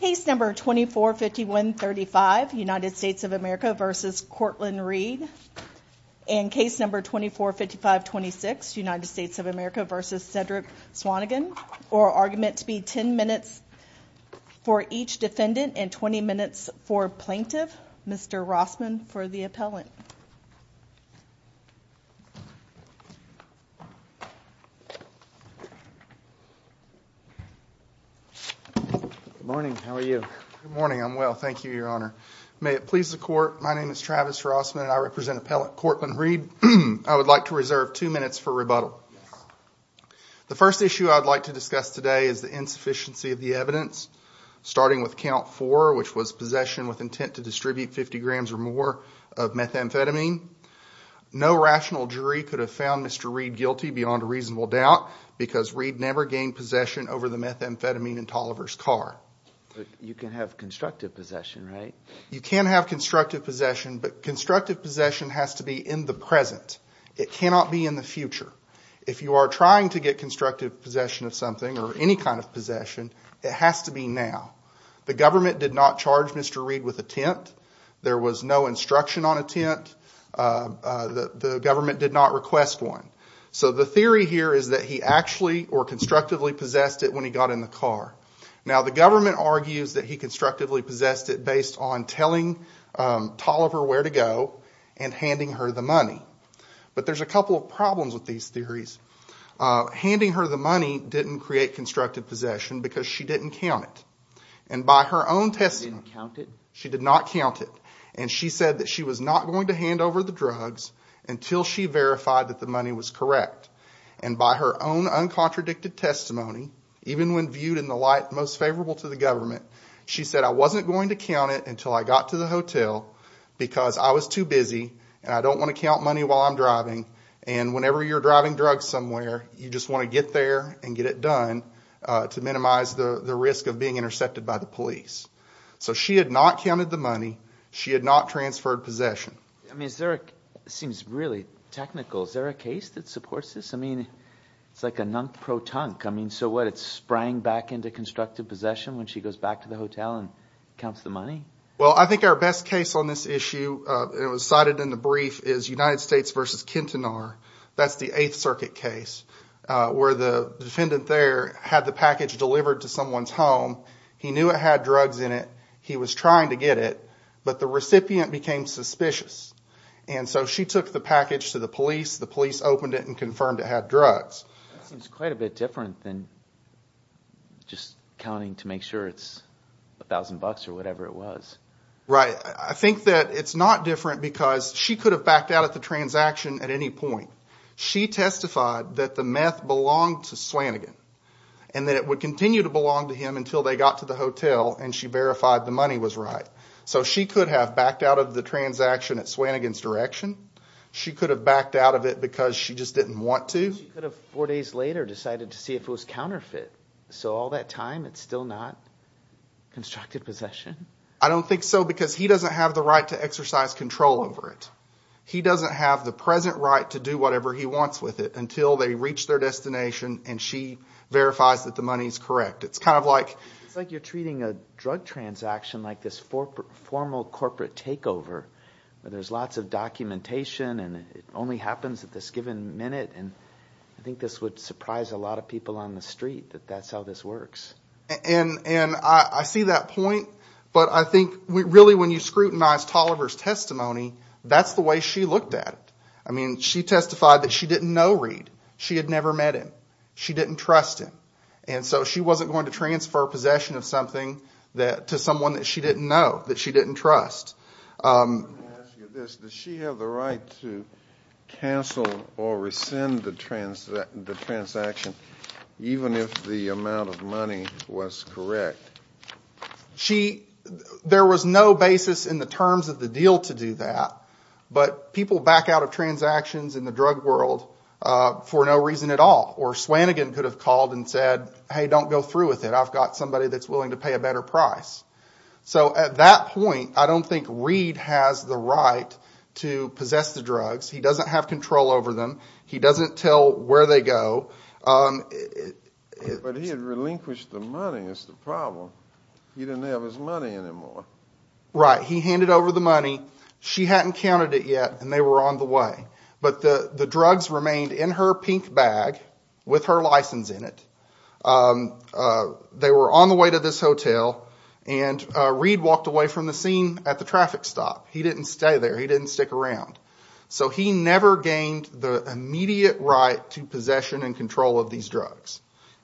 Case No. 245135, United States of America v. Courtland Reed Case No. 245526, United States of America v. Cedric Swannigan Argument to be 10 minutes for each defendant and 20 minutes for plaintiff Mr. Rossman for the appellant. Good morning. How are you? Good morning. I'm well. Thank you, Your Honor. May it please the Court, my name is Travis Rossman and I represent Appellant Courtland Reed. I would like to reserve two minutes for rebuttal. The first issue I would like to discuss today is the insufficiency of the evidence, starting with count four, which was possession with intent to distribute 50 grams or more of methamphetamine. No rational jury could have found Mr. Reed guilty beyond a reasonable doubt because Reed never gained possession over the methamphetamine in Toliver's car. You can have constructive possession, right? You can have constructive possession, but constructive possession has to be in the present. It cannot be in the future. If you are trying to get constructive possession of something or any kind of possession, it has to be now. The government did not charge Mr. Reed with intent. There was no instruction on intent. The government did not request one. So the theory here is that he actually or constructively possessed it when he got in the car. Now, the government argues that he constructively possessed it based on telling Toliver where to go and handing her the money. But there's a couple of problems with these theories. Handing her the money didn't create constructive possession because she didn't count it. And by her own testimony, she did not count it. And she said that she was not going to hand over the drugs until she verified that the money was correct. And by her own uncontradicted testimony, even when viewed in the light most favorable to the government, she said, I wasn't going to count it until I got to the hotel because I was too busy and I don't want to count money while I'm driving. And whenever you're driving drugs somewhere, you just want to get there and get it done to minimize the risk of being intercepted by the police. So she had not counted the money. She had not transferred possession. I mean, it seems really technical. Is there a case that supports this? I mean, it's like a non-pro-tunk. I mean, so what, it sprang back into constructive possession when she goes back to the hotel and counts the money? Well, I think our best case on this issue, and it was cited in the brief, is United States v. Quintanar. That's the Eighth Circuit case where the defendant there had the package delivered to someone's home. He knew it had drugs in it. He was trying to get it, but the recipient became suspicious. And so she took the package to the police. The police opened it and confirmed it had drugs. That seems quite a bit different than just counting to make sure it's a thousand bucks or whatever it was. Right. I think that it's not different because she could have backed out of the transaction at any point. She testified that the meth belonged to Swannigan and that it would continue to belong to him until they got to the hotel and she verified the money was right. So she could have backed out of the transaction at Swannigan's direction. She could have backed out of it because she just didn't want to. She could have four days later decided to see if it was counterfeit. So all that time it's still not constructive possession? I don't think so because he doesn't have the right to exercise control over it. He doesn't have the present right to do whatever he wants with it until they reach their destination and she verifies that the money is correct. It's like you're treating a drug transaction like this formal corporate takeover where there's lots of documentation and it only happens at this given minute. I think this would surprise a lot of people on the street that that's how this works. And I see that point, but I think really when you scrutinize Toliver's testimony, that's the way she looked at it. I mean she testified that she didn't know Reed. She had never met him. She didn't trust him. And so she wasn't going to transfer possession of something to someone that she didn't know, that she didn't trust. Let me ask you this. Does she have the right to cancel or rescind the transaction even if the amount of money was correct? There was no basis in the terms of the deal to do that, but people back out of transactions in the drug world for no reason at all. Or Swannigan could have called and said, hey, don't go through with it. I've got somebody that's willing to pay a better price. So at that point, I don't think Reed has the right to possess the drugs. He doesn't have control over them. He doesn't tell where they go. But he had relinquished the money is the problem. He didn't have his money anymore. Right. He handed over the money. She hadn't counted it yet and they were on the way. But the drugs remained in her pink bag with her license in it. They were on the way to this hotel and Reed walked away from the scene at the traffic stop. He didn't stay there. He didn't stick around. So he never gained the immediate right to possession and control of these drugs.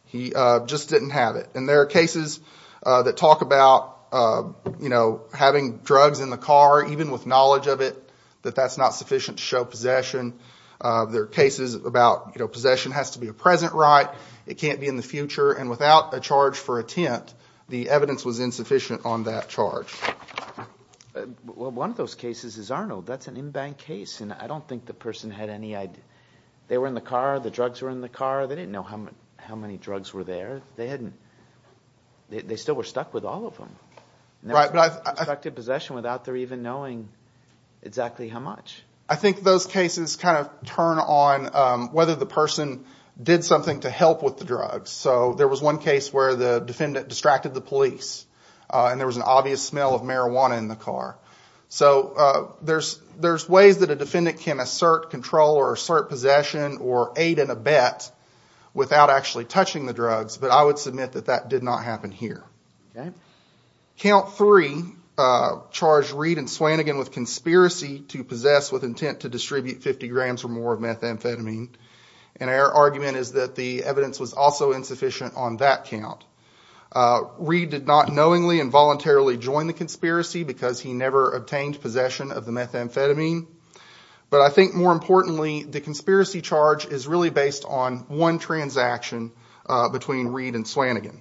He just didn't have it. And there are cases that talk about having drugs in the car, even with knowledge of it, that that's not sufficient to show possession. There are cases about possession has to be a present right. It can't be in the future. And without a charge for intent, the evidence was insufficient on that charge. Well, one of those cases is Arnold. That's an in-bank case, and I don't think the person had any idea. They were in the car. The drugs were in the car. They didn't know how many drugs were there. They still were stuck with all of them. Right. They're stuck to possession without their even knowing exactly how much. I think those cases kind of turn on whether the person did something to help with the drugs. So there was one case where the defendant distracted the police, and there was an obvious smell of marijuana in the car. So there's ways that a defendant can assert control or assert possession or aid in a bet without actually touching the drugs, but I would submit that that did not happen here. Count three charged Reed and Swannigan with conspiracy to possess with intent to distribute 50 grams or more of methamphetamine. And our argument is that the evidence was also insufficient on that count. Reed did not knowingly and voluntarily join the conspiracy because he never obtained possession of the methamphetamine. But I think more importantly, the conspiracy charge is really based on one transaction between Reed and Swannigan.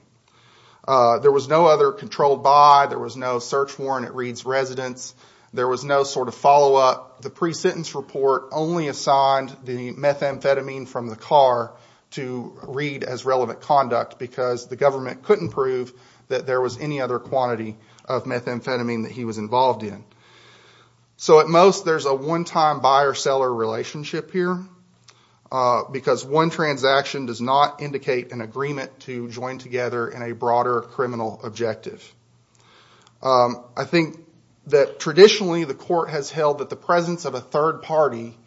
There was no other controlled by. There was no search warrant at Reed's residence. There was no sort of follow-up. The pre-sentence report only assigned the methamphetamine from the car to Reed as relevant conduct because the government couldn't prove that there was any other quantity of methamphetamine that he was involved in. So at most, there's a one-time buyer-seller relationship here because one transaction does not indicate an agreement to join together in a broader criminal objective. I think that traditionally, the court has held that the presence of a third party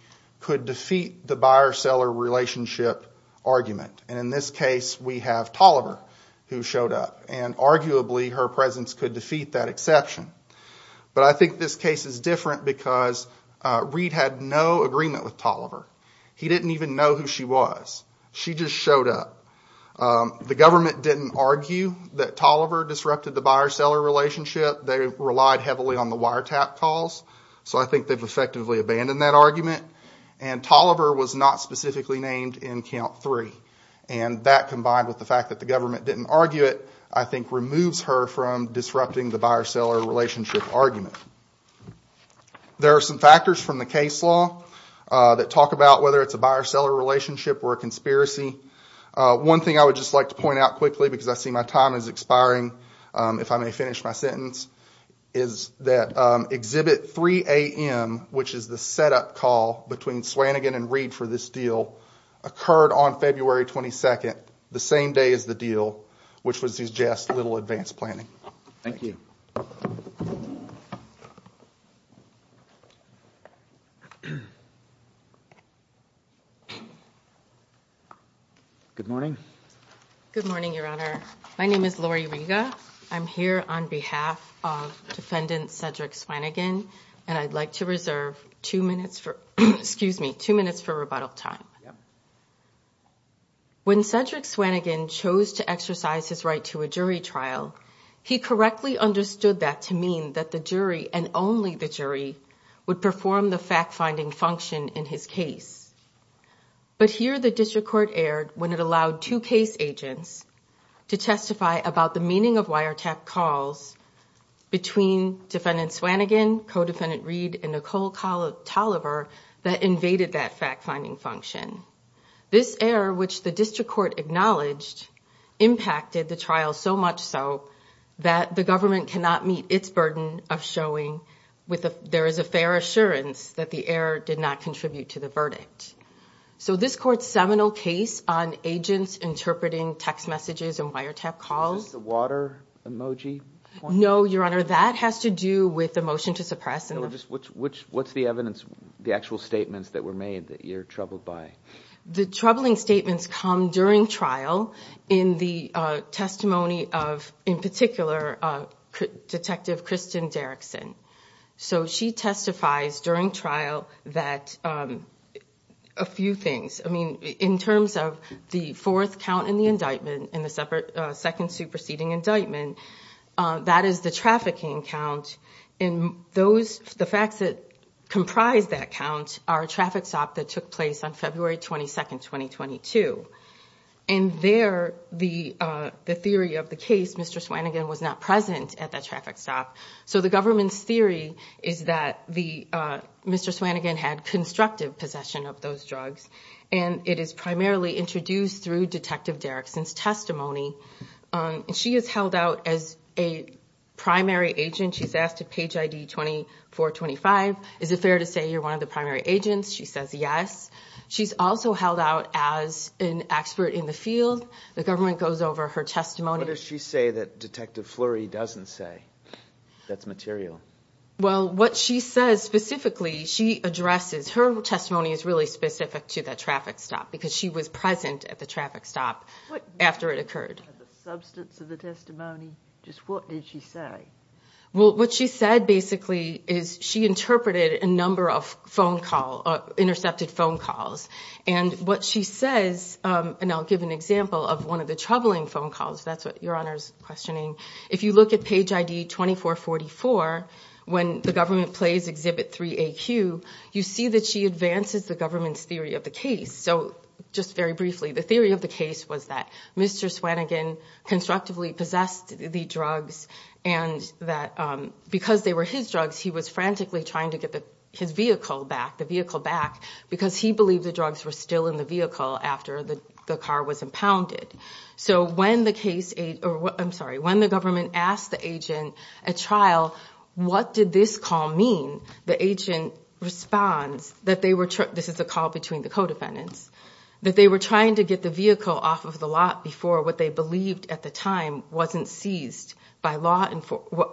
could defeat the buyer-seller relationship argument. And in this case, we have Tolliver who showed up. And arguably, her presence could defeat that exception. But I think this case is different because Reed had no agreement with Tolliver. He didn't even know who she was. She just showed up. The government didn't argue that Tolliver disrupted the buyer-seller relationship. They relied heavily on the wiretap calls. So I think they've effectively abandoned that argument. And Tolliver was not specifically named in Count 3. And that, combined with the fact that the government didn't argue it, I think removes her from disrupting the buyer-seller relationship argument. There are some factors from the case law that talk about whether it's a buyer-seller relationship or a conspiracy. One thing I would just like to point out quickly because I see my time is expiring, if I may finish my sentence, is that Exhibit 3AM, which is the setup call between Swannigan and Reed for this deal, occurred on February 22nd, the same day as the deal, which was just a little advanced planning. Thank you. Good morning. Good morning, Your Honor. My name is Lori Riga. I'm here on behalf of Defendant Cedric Swannigan, and I'd like to reserve two minutes for rebuttal time. When Cedric Swannigan chose to exercise his right to a jury trial, he correctly understood that to mean that the jury and only the jury would perform the fact-finding function in his case. But here the district court erred when it allowed two case agents to testify about the meaning of wiretap calls between Defendant Swannigan, Co-Defendant Reed, and Nicole Tolliver that invaded that fact-finding function. This error, which the district court acknowledged, impacted the trial so much so that the government cannot meet its burden of showing there is a fair assurance that the error did not contribute to the verdict. So this court's seminal case on agents interpreting text messages and wiretap calls— Is this the water emoji point? No, Your Honor. That has to do with the motion to suppress. What's the evidence, the actual statements that were made that you're troubled by? The troubling statements come during trial in the testimony of, in particular, Detective Kristen Derrickson. So she testifies during trial that a few things— I mean, in terms of the fourth count in the indictment, in the second superseding indictment, that is the trafficking count. And the facts that comprise that count are a traffic stop that took place on February 22, 2022. And there, the theory of the case, Mr. Swannigan was not present at that traffic stop. So the government's theory is that Mr. Swannigan had constructive possession of those drugs, and it is primarily introduced through Detective Derrickson's testimony. She is held out as a primary agent. She's asked to page ID 2425. Is it fair to say you're one of the primary agents? She says yes. She's also held out as an expert in the field. The government goes over her testimony. What does she say that Detective Flurry doesn't say that's material? Well, what she says specifically, she addresses. Her testimony is really specific to that traffic stop because she was present at the traffic stop after it occurred. The substance of the testimony, just what did she say? Well, what she said basically is she interpreted a number of phone calls, intercepted phone calls. And what she says, and I'll give an example of one of the troubling phone calls. That's what Your Honor's questioning. If you look at page ID 2444, when the government plays Exhibit 3AQ, you see that she advances the government's theory of the case. So just very briefly, the theory of the case was that Mr. Swannigan constructively possessed the drugs and that because they were his drugs, he was frantically trying to get his vehicle back, the vehicle back, because he believed the drugs were still in the vehicle after the car was impounded. So when the government asked the agent at trial, what did this call mean? The agent responds that they were – this is the call between the co-defendants – that they were trying to get the vehicle off of the lot before what they believed at the time wasn't seized by law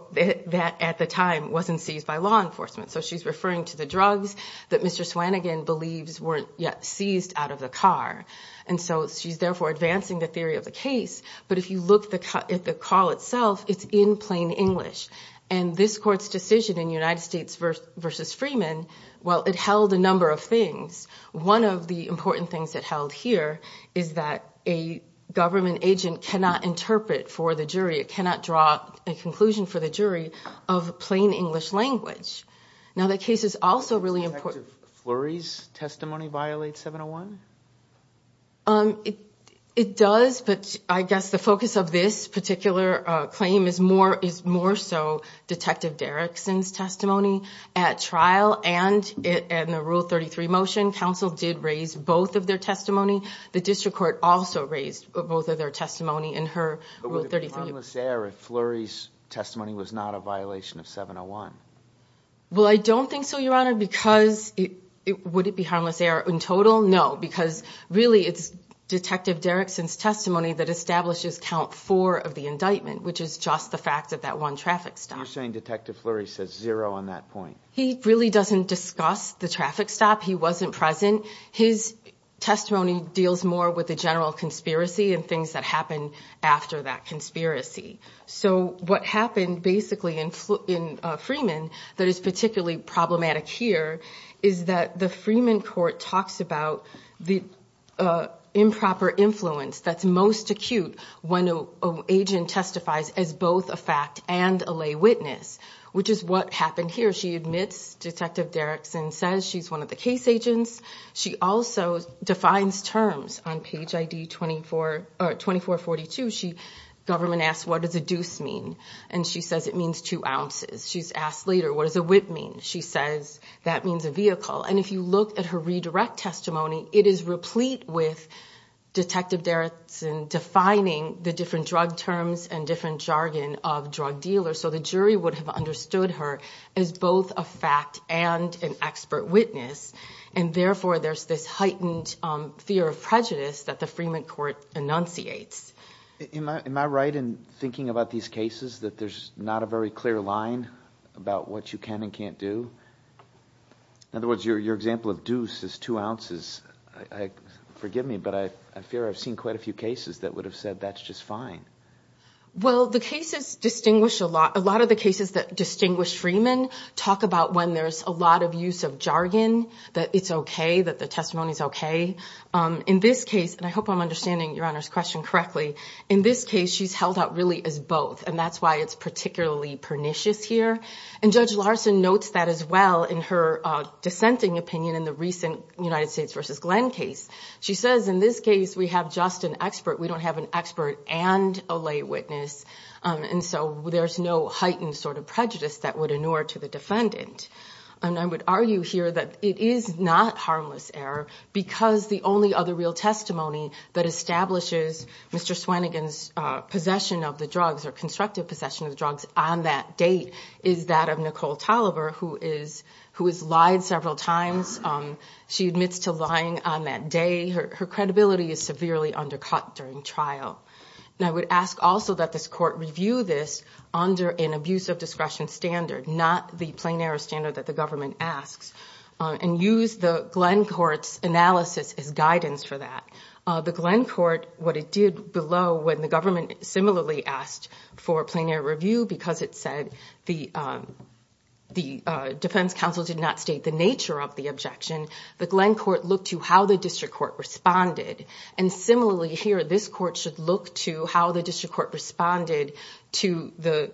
– that at the time wasn't seized by law enforcement. So she's referring to the drugs that Mr. Swannigan believes were seized out of the car. And so she's therefore advancing the theory of the case. But if you look at the call itself, it's in plain English. And this court's decision in United States v. Freeman, well, it held a number of things. One of the important things it held here is that a government agent cannot interpret for the jury. It cannot draw a conclusion for the jury of plain English language. Now, that case is also really important. Does Detective Flurry's testimony violate 701? It does, but I guess the focus of this particular claim is more so Detective Derrickson's testimony at trial. And in the Rule 33 motion, counsel did raise both of their testimony. The district court also raised both of their testimony in her Rule 33. But would it be harmless error if Flurry's testimony was not a violation of 701? Well, I don't think so, Your Honor, because – would it be harmless error in total? No, because really it's Detective Derrickson's testimony that establishes count four of the indictment, which is just the fact that that one traffic stop. You're saying Detective Flurry says zero on that point? He really doesn't discuss the traffic stop. He wasn't present. His testimony deals more with the general conspiracy and things that happen after that conspiracy. So what happened basically in Freeman that is particularly problematic here is that the Freeman court talks about the improper influence that's most acute when an agent testifies as both a fact and a lay witness, which is what happened here. She admits, Detective Derrickson says she's one of the case agents. She also defines terms on page ID 24 – or 2442. The government asks, What does a deuce mean? And she says it means two ounces. She's asked later, What does a whip mean? She says that means a vehicle. And if you look at her redirect testimony, it is replete with Detective Derrickson defining the different drug terms and different jargon of drug dealers. So the jury would have understood her as both a fact and an expert witness, and therefore there's this heightened fear of prejudice that the Freeman court enunciates. Am I right in thinking about these cases that there's not a very clear line about what you can and can't do? In other words, your example of deuce is two ounces. Forgive me, but I fear I've seen quite a few cases that would have said that's just fine. Well, the cases distinguish a lot. A lot of the cases that distinguish Freeman talk about when there's a lot of use of jargon, that it's okay, that the testimony's okay. In this case, and I hope I'm understanding Your Honor's question correctly, in this case she's held out really as both, and that's why it's particularly pernicious here. And Judge Larson notes that as well in her dissenting opinion in the recent United States v. Glenn case. She says in this case we have just an expert. We don't have an expert and a lay witness. And so there's no heightened sort of prejudice that would inure to the defendant. And I would argue here that it is not harmless error because the only other real testimony that establishes Mr. Swannigan's possession of the drugs or constructive possession of the drugs on that date is that of Nicole Tolliver, who has lied several times. She admits to lying on that day. Her credibility is severely undercut during trial. And I would ask also that this court review this under an abuse of discretion standard, not the plain error standard that the government asks, and use the Glenn court's analysis as guidance for that. The Glenn court, what it did below when the government similarly asked for a plain error review because it said the defense counsel did not state the nature of the objection, the Glenn court looked to how the district court responded. And similarly here, this court should look to how the district court responded to the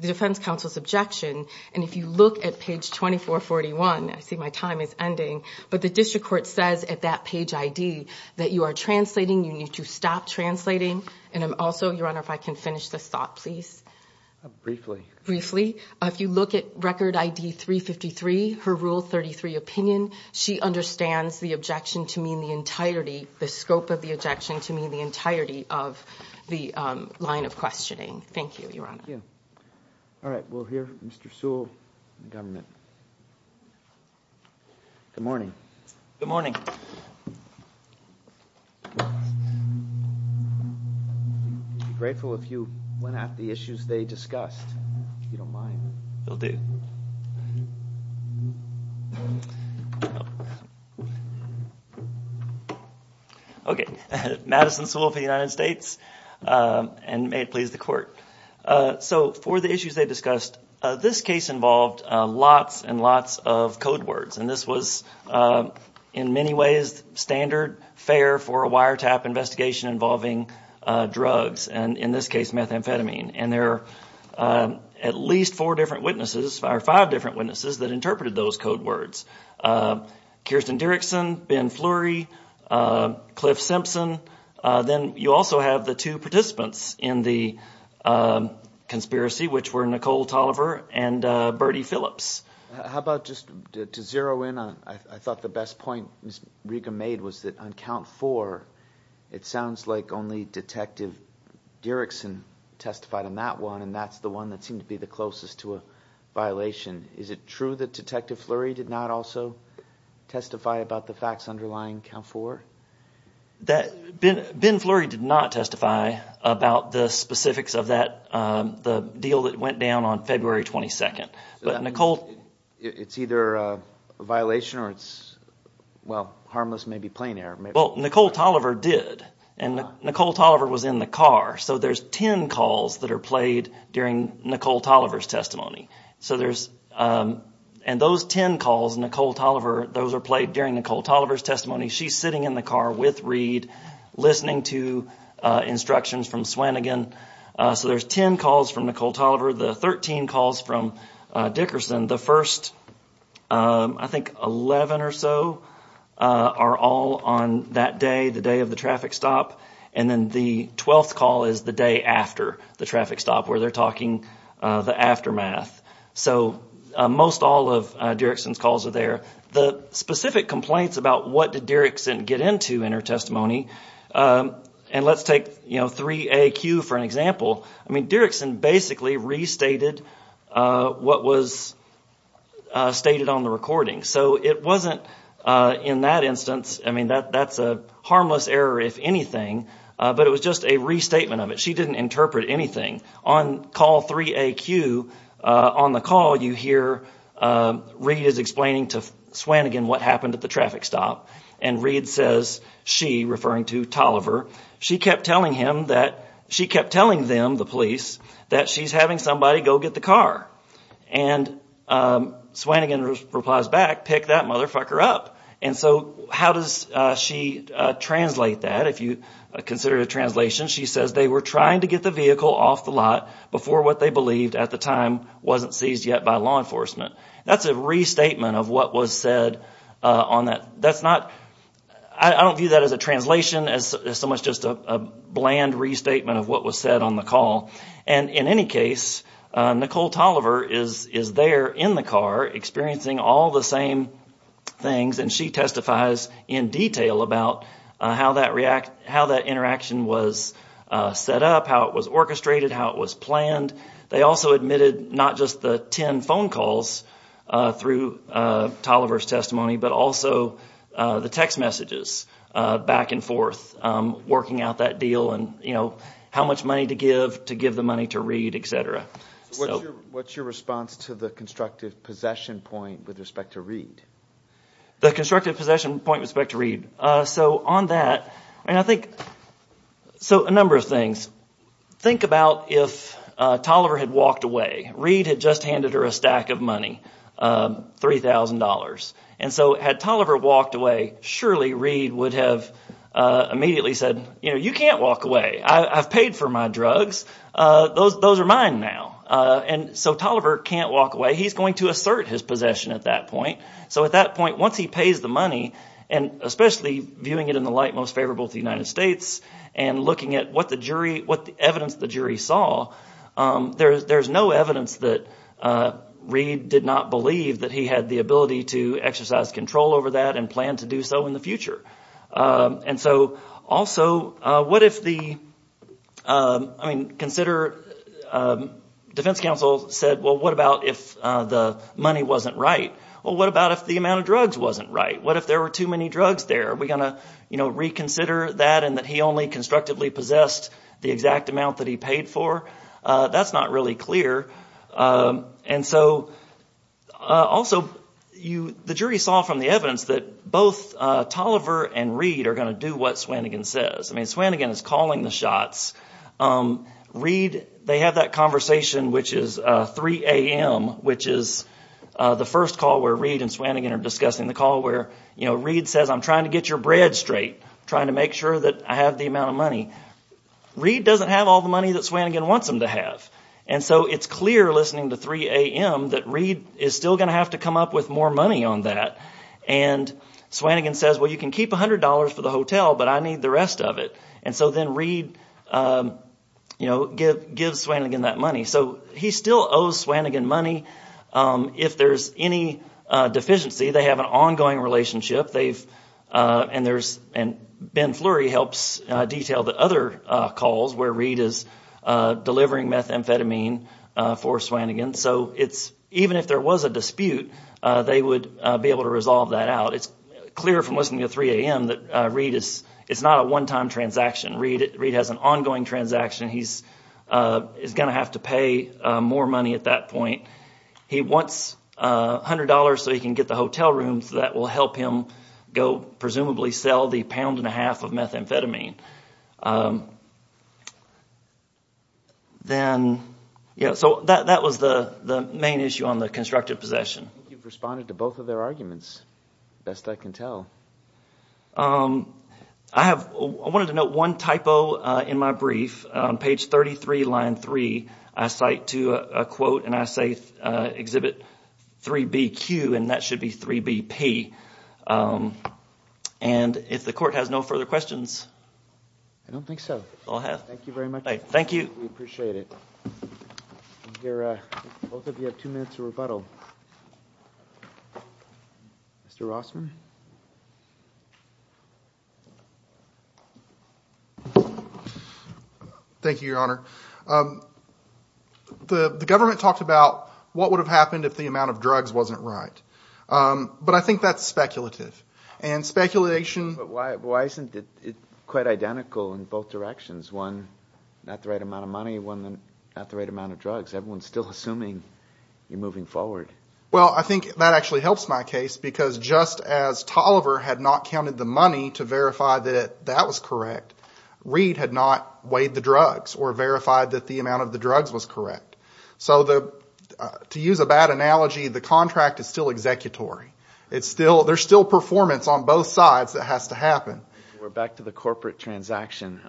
defense counsel's objection. And if you look at page 2441, I see my time is ending, but the district court says at that page ID that you are translating, you need to stop translating. And also, Your Honor, if I can finish this thought, please. Briefly. Briefly. If you look at record ID 353, her Rule 33 opinion, she understands the objection to mean the entirety, the scope of the objection to mean the entirety of the line of questioning. Thank you, Your Honor. Thank you. All right. We'll hear Mr. Sewell, the government. Good morning. Good morning. Be grateful if you went at the issues they discussed, if you don't mind. You'll do. Okay. Madison Sewell for the United States, and may it please the court. So for the issues they discussed, this case involved lots and lots of code words, and this was in many ways standard, fair for a wiretap investigation involving drugs, and in this case methamphetamine. And there are at least four different witnesses, or five different witnesses, that interpreted those code words. Kirsten Dirickson, Ben Fleury, Cliff Simpson. Then you also have the two participants in the conspiracy, which were Nicole Tolliver and Bertie Phillips. How about just to zero in on, I thought the best point Ms. Riga made was that on count four, it sounds like only Detective Dirickson testified on that one, and that's the one that seemed to be the closest to a violation. Is it true that Detective Fleury did not also testify about the facts underlying count four? Ben Fleury did not testify about the specifics of the deal that went down on February 22nd. It's either a violation or it's, well, harmless, maybe plain error. Well, Nicole Tolliver did, and Nicole Tolliver was in the car, so there's ten calls that are played during Nicole Tolliver's testimony. And those ten calls, those are played during Nicole Tolliver's testimony. She's sitting in the car with Reed, listening to instructions from Swannigan. So there's ten calls from Nicole Tolliver. The thirteen calls from Dickerson, the first, I think, eleven or so are all on that day, the day of the traffic stop. And then the twelfth call is the day after the traffic stop where they're talking the aftermath. So most all of Dirickson's calls are there. The specific complaints about what did Dirickson get into in her testimony, and let's take 3AQ for an example. I mean, Dirickson basically restated what was stated on the recording. So it wasn't, in that instance, I mean, that's a harmless error, if anything, but it was just a restatement of it. She didn't interpret anything. On call 3AQ, on the call, you hear Reed is explaining to Swannigan what happened at the traffic stop. And Reed says she, referring to Tolliver, she kept telling him that, she kept telling them, the police, that she's having somebody go get the car. And Swannigan replies back, pick that motherfucker up. And so how does she translate that? If you consider the translation, she says they were trying to get the vehicle off the lot before what they believed at the time wasn't seized yet by law enforcement. That's a restatement of what was said on that. That's not, I don't view that as a translation. It's so much just a bland restatement of what was said on the call. And in any case, Nicole Tolliver is there in the car experiencing all the same things, and she testifies in detail about how that interaction was set up, how it was orchestrated, how it was planned. They also admitted not just the ten phone calls through Tolliver's testimony, but also the text messages back and forth, working out that deal and how much money to give to give the money to Reed, etc. What's your response to the constructive possession point with respect to Reed? The constructive possession point with respect to Reed. So on that, I think, so a number of things. Think about if Tolliver had walked away. Reed had just handed her a stack of money, $3,000. And so had Tolliver walked away, surely Reed would have immediately said, you can't walk away. I've paid for my drugs. Those are mine now. And so Tolliver can't walk away. He's going to assert his possession at that point. So at that point, once he pays the money, and especially viewing it in the light most favorable to the United States, and looking at what the jury – what the evidence the jury saw, there is no evidence that Reed did not believe that he had the ability to exercise control over that and plan to do so in the future. And so also what if the – I mean consider – defense counsel said, well, what about if the money wasn't right? Well, what about if the amount of drugs wasn't right? What if there were too many drugs there? Are we going to reconsider that and that he only constructively possessed the exact amount that he paid for? That's not really clear. And so also the jury saw from the evidence that both Tolliver and Reed are going to do what Swannigan says. I mean Swannigan is calling the shots. Reed – they have that conversation, which is 3 a.m., which is the first call where Reed and Swannigan are discussing, the call where Reed says, I'm trying to get your bread straight, trying to make sure that I have the amount of money. Reed doesn't have all the money that Swannigan wants him to have. And so it's clear listening to 3 a.m. that Reed is still going to have to come up with more money on that. And Swannigan says, well, you can keep $100 for the hotel, but I need the rest of it. And so then Reed gives Swannigan that money. So he still owes Swannigan money. If there's any deficiency, they have an ongoing relationship. And Ben Fleury helps detail the other calls where Reed is delivering methamphetamine for Swannigan. So even if there was a dispute, they would be able to resolve that out. It's clear from listening to 3 a.m. that Reed is – it's not a one-time transaction. Reed has an ongoing transaction. He's going to have to pay more money at that point. He wants $100 so he can get the hotel room, so that will help him go presumably sell the pound and a half of methamphetamine. Then – so that was the main issue on the constructive possession. I think you've responded to both of their arguments, best I can tell. I have – I wanted to note one typo in my brief. On page 33, line 3, I cite to a quote, and I say exhibit 3BQ, and that should be 3BP. And if the court has no further questions. I don't think so. Thank you very much. Thank you. We appreciate it. I hear both of you have two minutes to rebuttal. Mr. Rossman? Thank you, Your Honor. The government talked about what would have happened if the amount of drugs wasn't right. But I think that's speculative, and speculation – But why isn't it quite identical in both directions? One, not the right amount of money. One, not the right amount of drugs. Everyone's still assuming you're moving forward. Well, I think that actually helps my case because just as Tolliver had not counted the money to verify that that was correct, Reed had not weighed the drugs or verified that the amount of the drugs was correct. So to use a bad analogy, the contract is still executory. There's still performance on both sides that has to happen. We're back to the corporate transaction.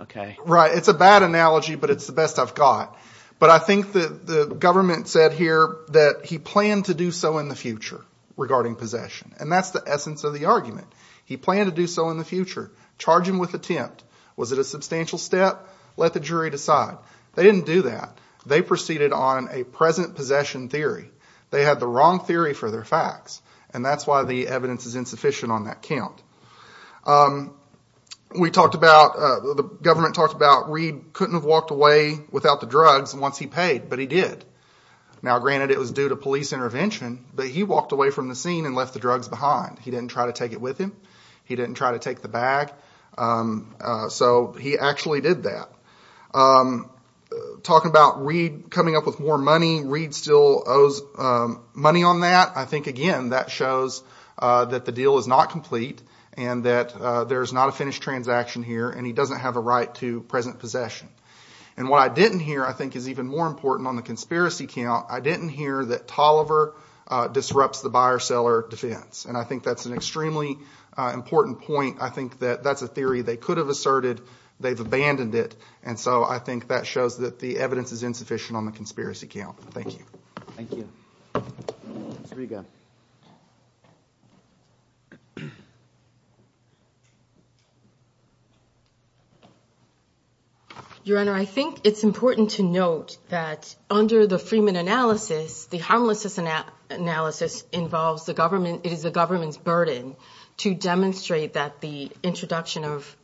Right. It's a bad analogy, but it's the best I've got. But I think the government said here that he planned to do so in the future regarding possession, and that's the essence of the argument. He planned to do so in the future, charge him with attempt. Was it a substantial step? Let the jury decide. They didn't do that. They proceeded on a present possession theory. They had the wrong theory for their facts, and that's why the evidence is insufficient on that count. The government talked about Reed couldn't have walked away without the drugs once he paid, but he did. Now, granted, it was due to police intervention, but he walked away from the scene and left the drugs behind. He didn't try to take it with him. He didn't try to take the bag. So he actually did that. Talking about Reed coming up with more money, Reed still owes money on that. I think, again, that shows that the deal is not complete and that there is not a finished transaction here, and he doesn't have a right to present possession. And what I didn't hear I think is even more important on the conspiracy count. I didn't hear that Tolliver disrupts the buyer-seller defense, and I think that's an extremely important point. I think that that's a theory they could have asserted. They've abandoned it, and so I think that shows that the evidence is insufficient on the conspiracy count. Thank you. Thank you. Ms. Riga. Your Honor, I think it's important to note that under the Freeman analysis, the harmlessness analysis involves the government. It is the government's burden to demonstrate that the introduction of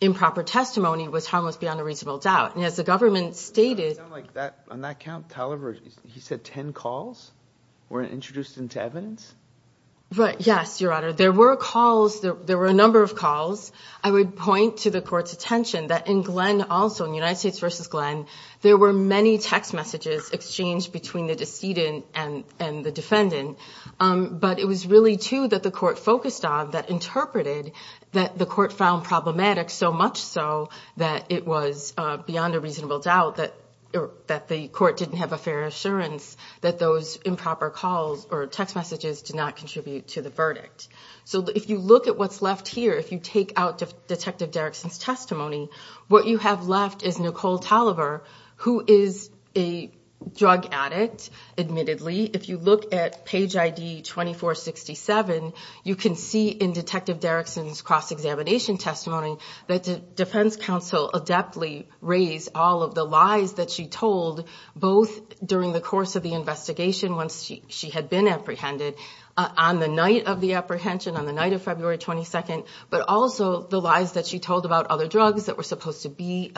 improper testimony was harmless beyond a reasonable doubt. On that count, Tolliver, he said 10 calls were introduced into evidence? Yes, Your Honor. There were calls. There were a number of calls. I would point to the court's attention that in Glenn also, in United States v. Glenn, there were many text messages exchanged between the decedent and the defendant, but it was really two that the court focused on that interpreted that the court found problematic, so much so that it was beyond a reasonable doubt that the court didn't have a fair assurance that those improper calls or text messages did not contribute to the verdict. So if you look at what's left here, if you take out Detective Derrickson's testimony, what you have left is Nicole Tolliver, who is a drug addict, admittedly. If you look at page ID 2467, you can see in Detective Derrickson's cross-examination testimony that the defense counsel adeptly raised all of the lies that she told both during the course of the investigation, once she had been apprehended, on the night of the apprehension, on the night of February 22nd, but also the lies that she told about other drugs that were supposed to be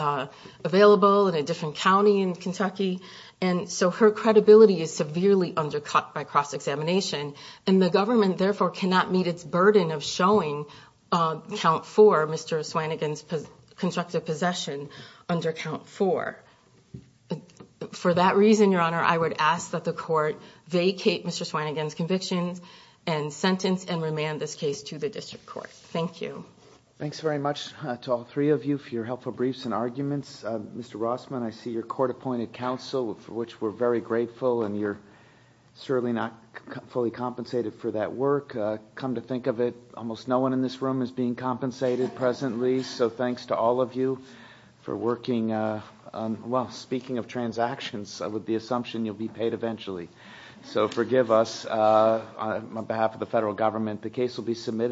available in a different county in Kentucky. And so her credibility is severely undercut by cross-examination, and the government therefore cannot meet its burden of showing count four, Mr. Swannigan's constructive possession under count four. For that reason, Your Honor, I would ask that the court vacate Mr. Swannigan's convictions and sentence and remand this case to the district court. Thank you. Thanks very much to all three of you for your helpful briefs and arguments. Mr. Rossman, I see your court-appointed counsel, for which we're very grateful, and you're certainly not fully compensated for that work. Come to think of it, almost no one in this room is being compensated presently, so thanks to all of you for working on, well, speaking of transactions, with the assumption you'll be paid eventually. So forgive us. On behalf of the federal government, the case will be submitted.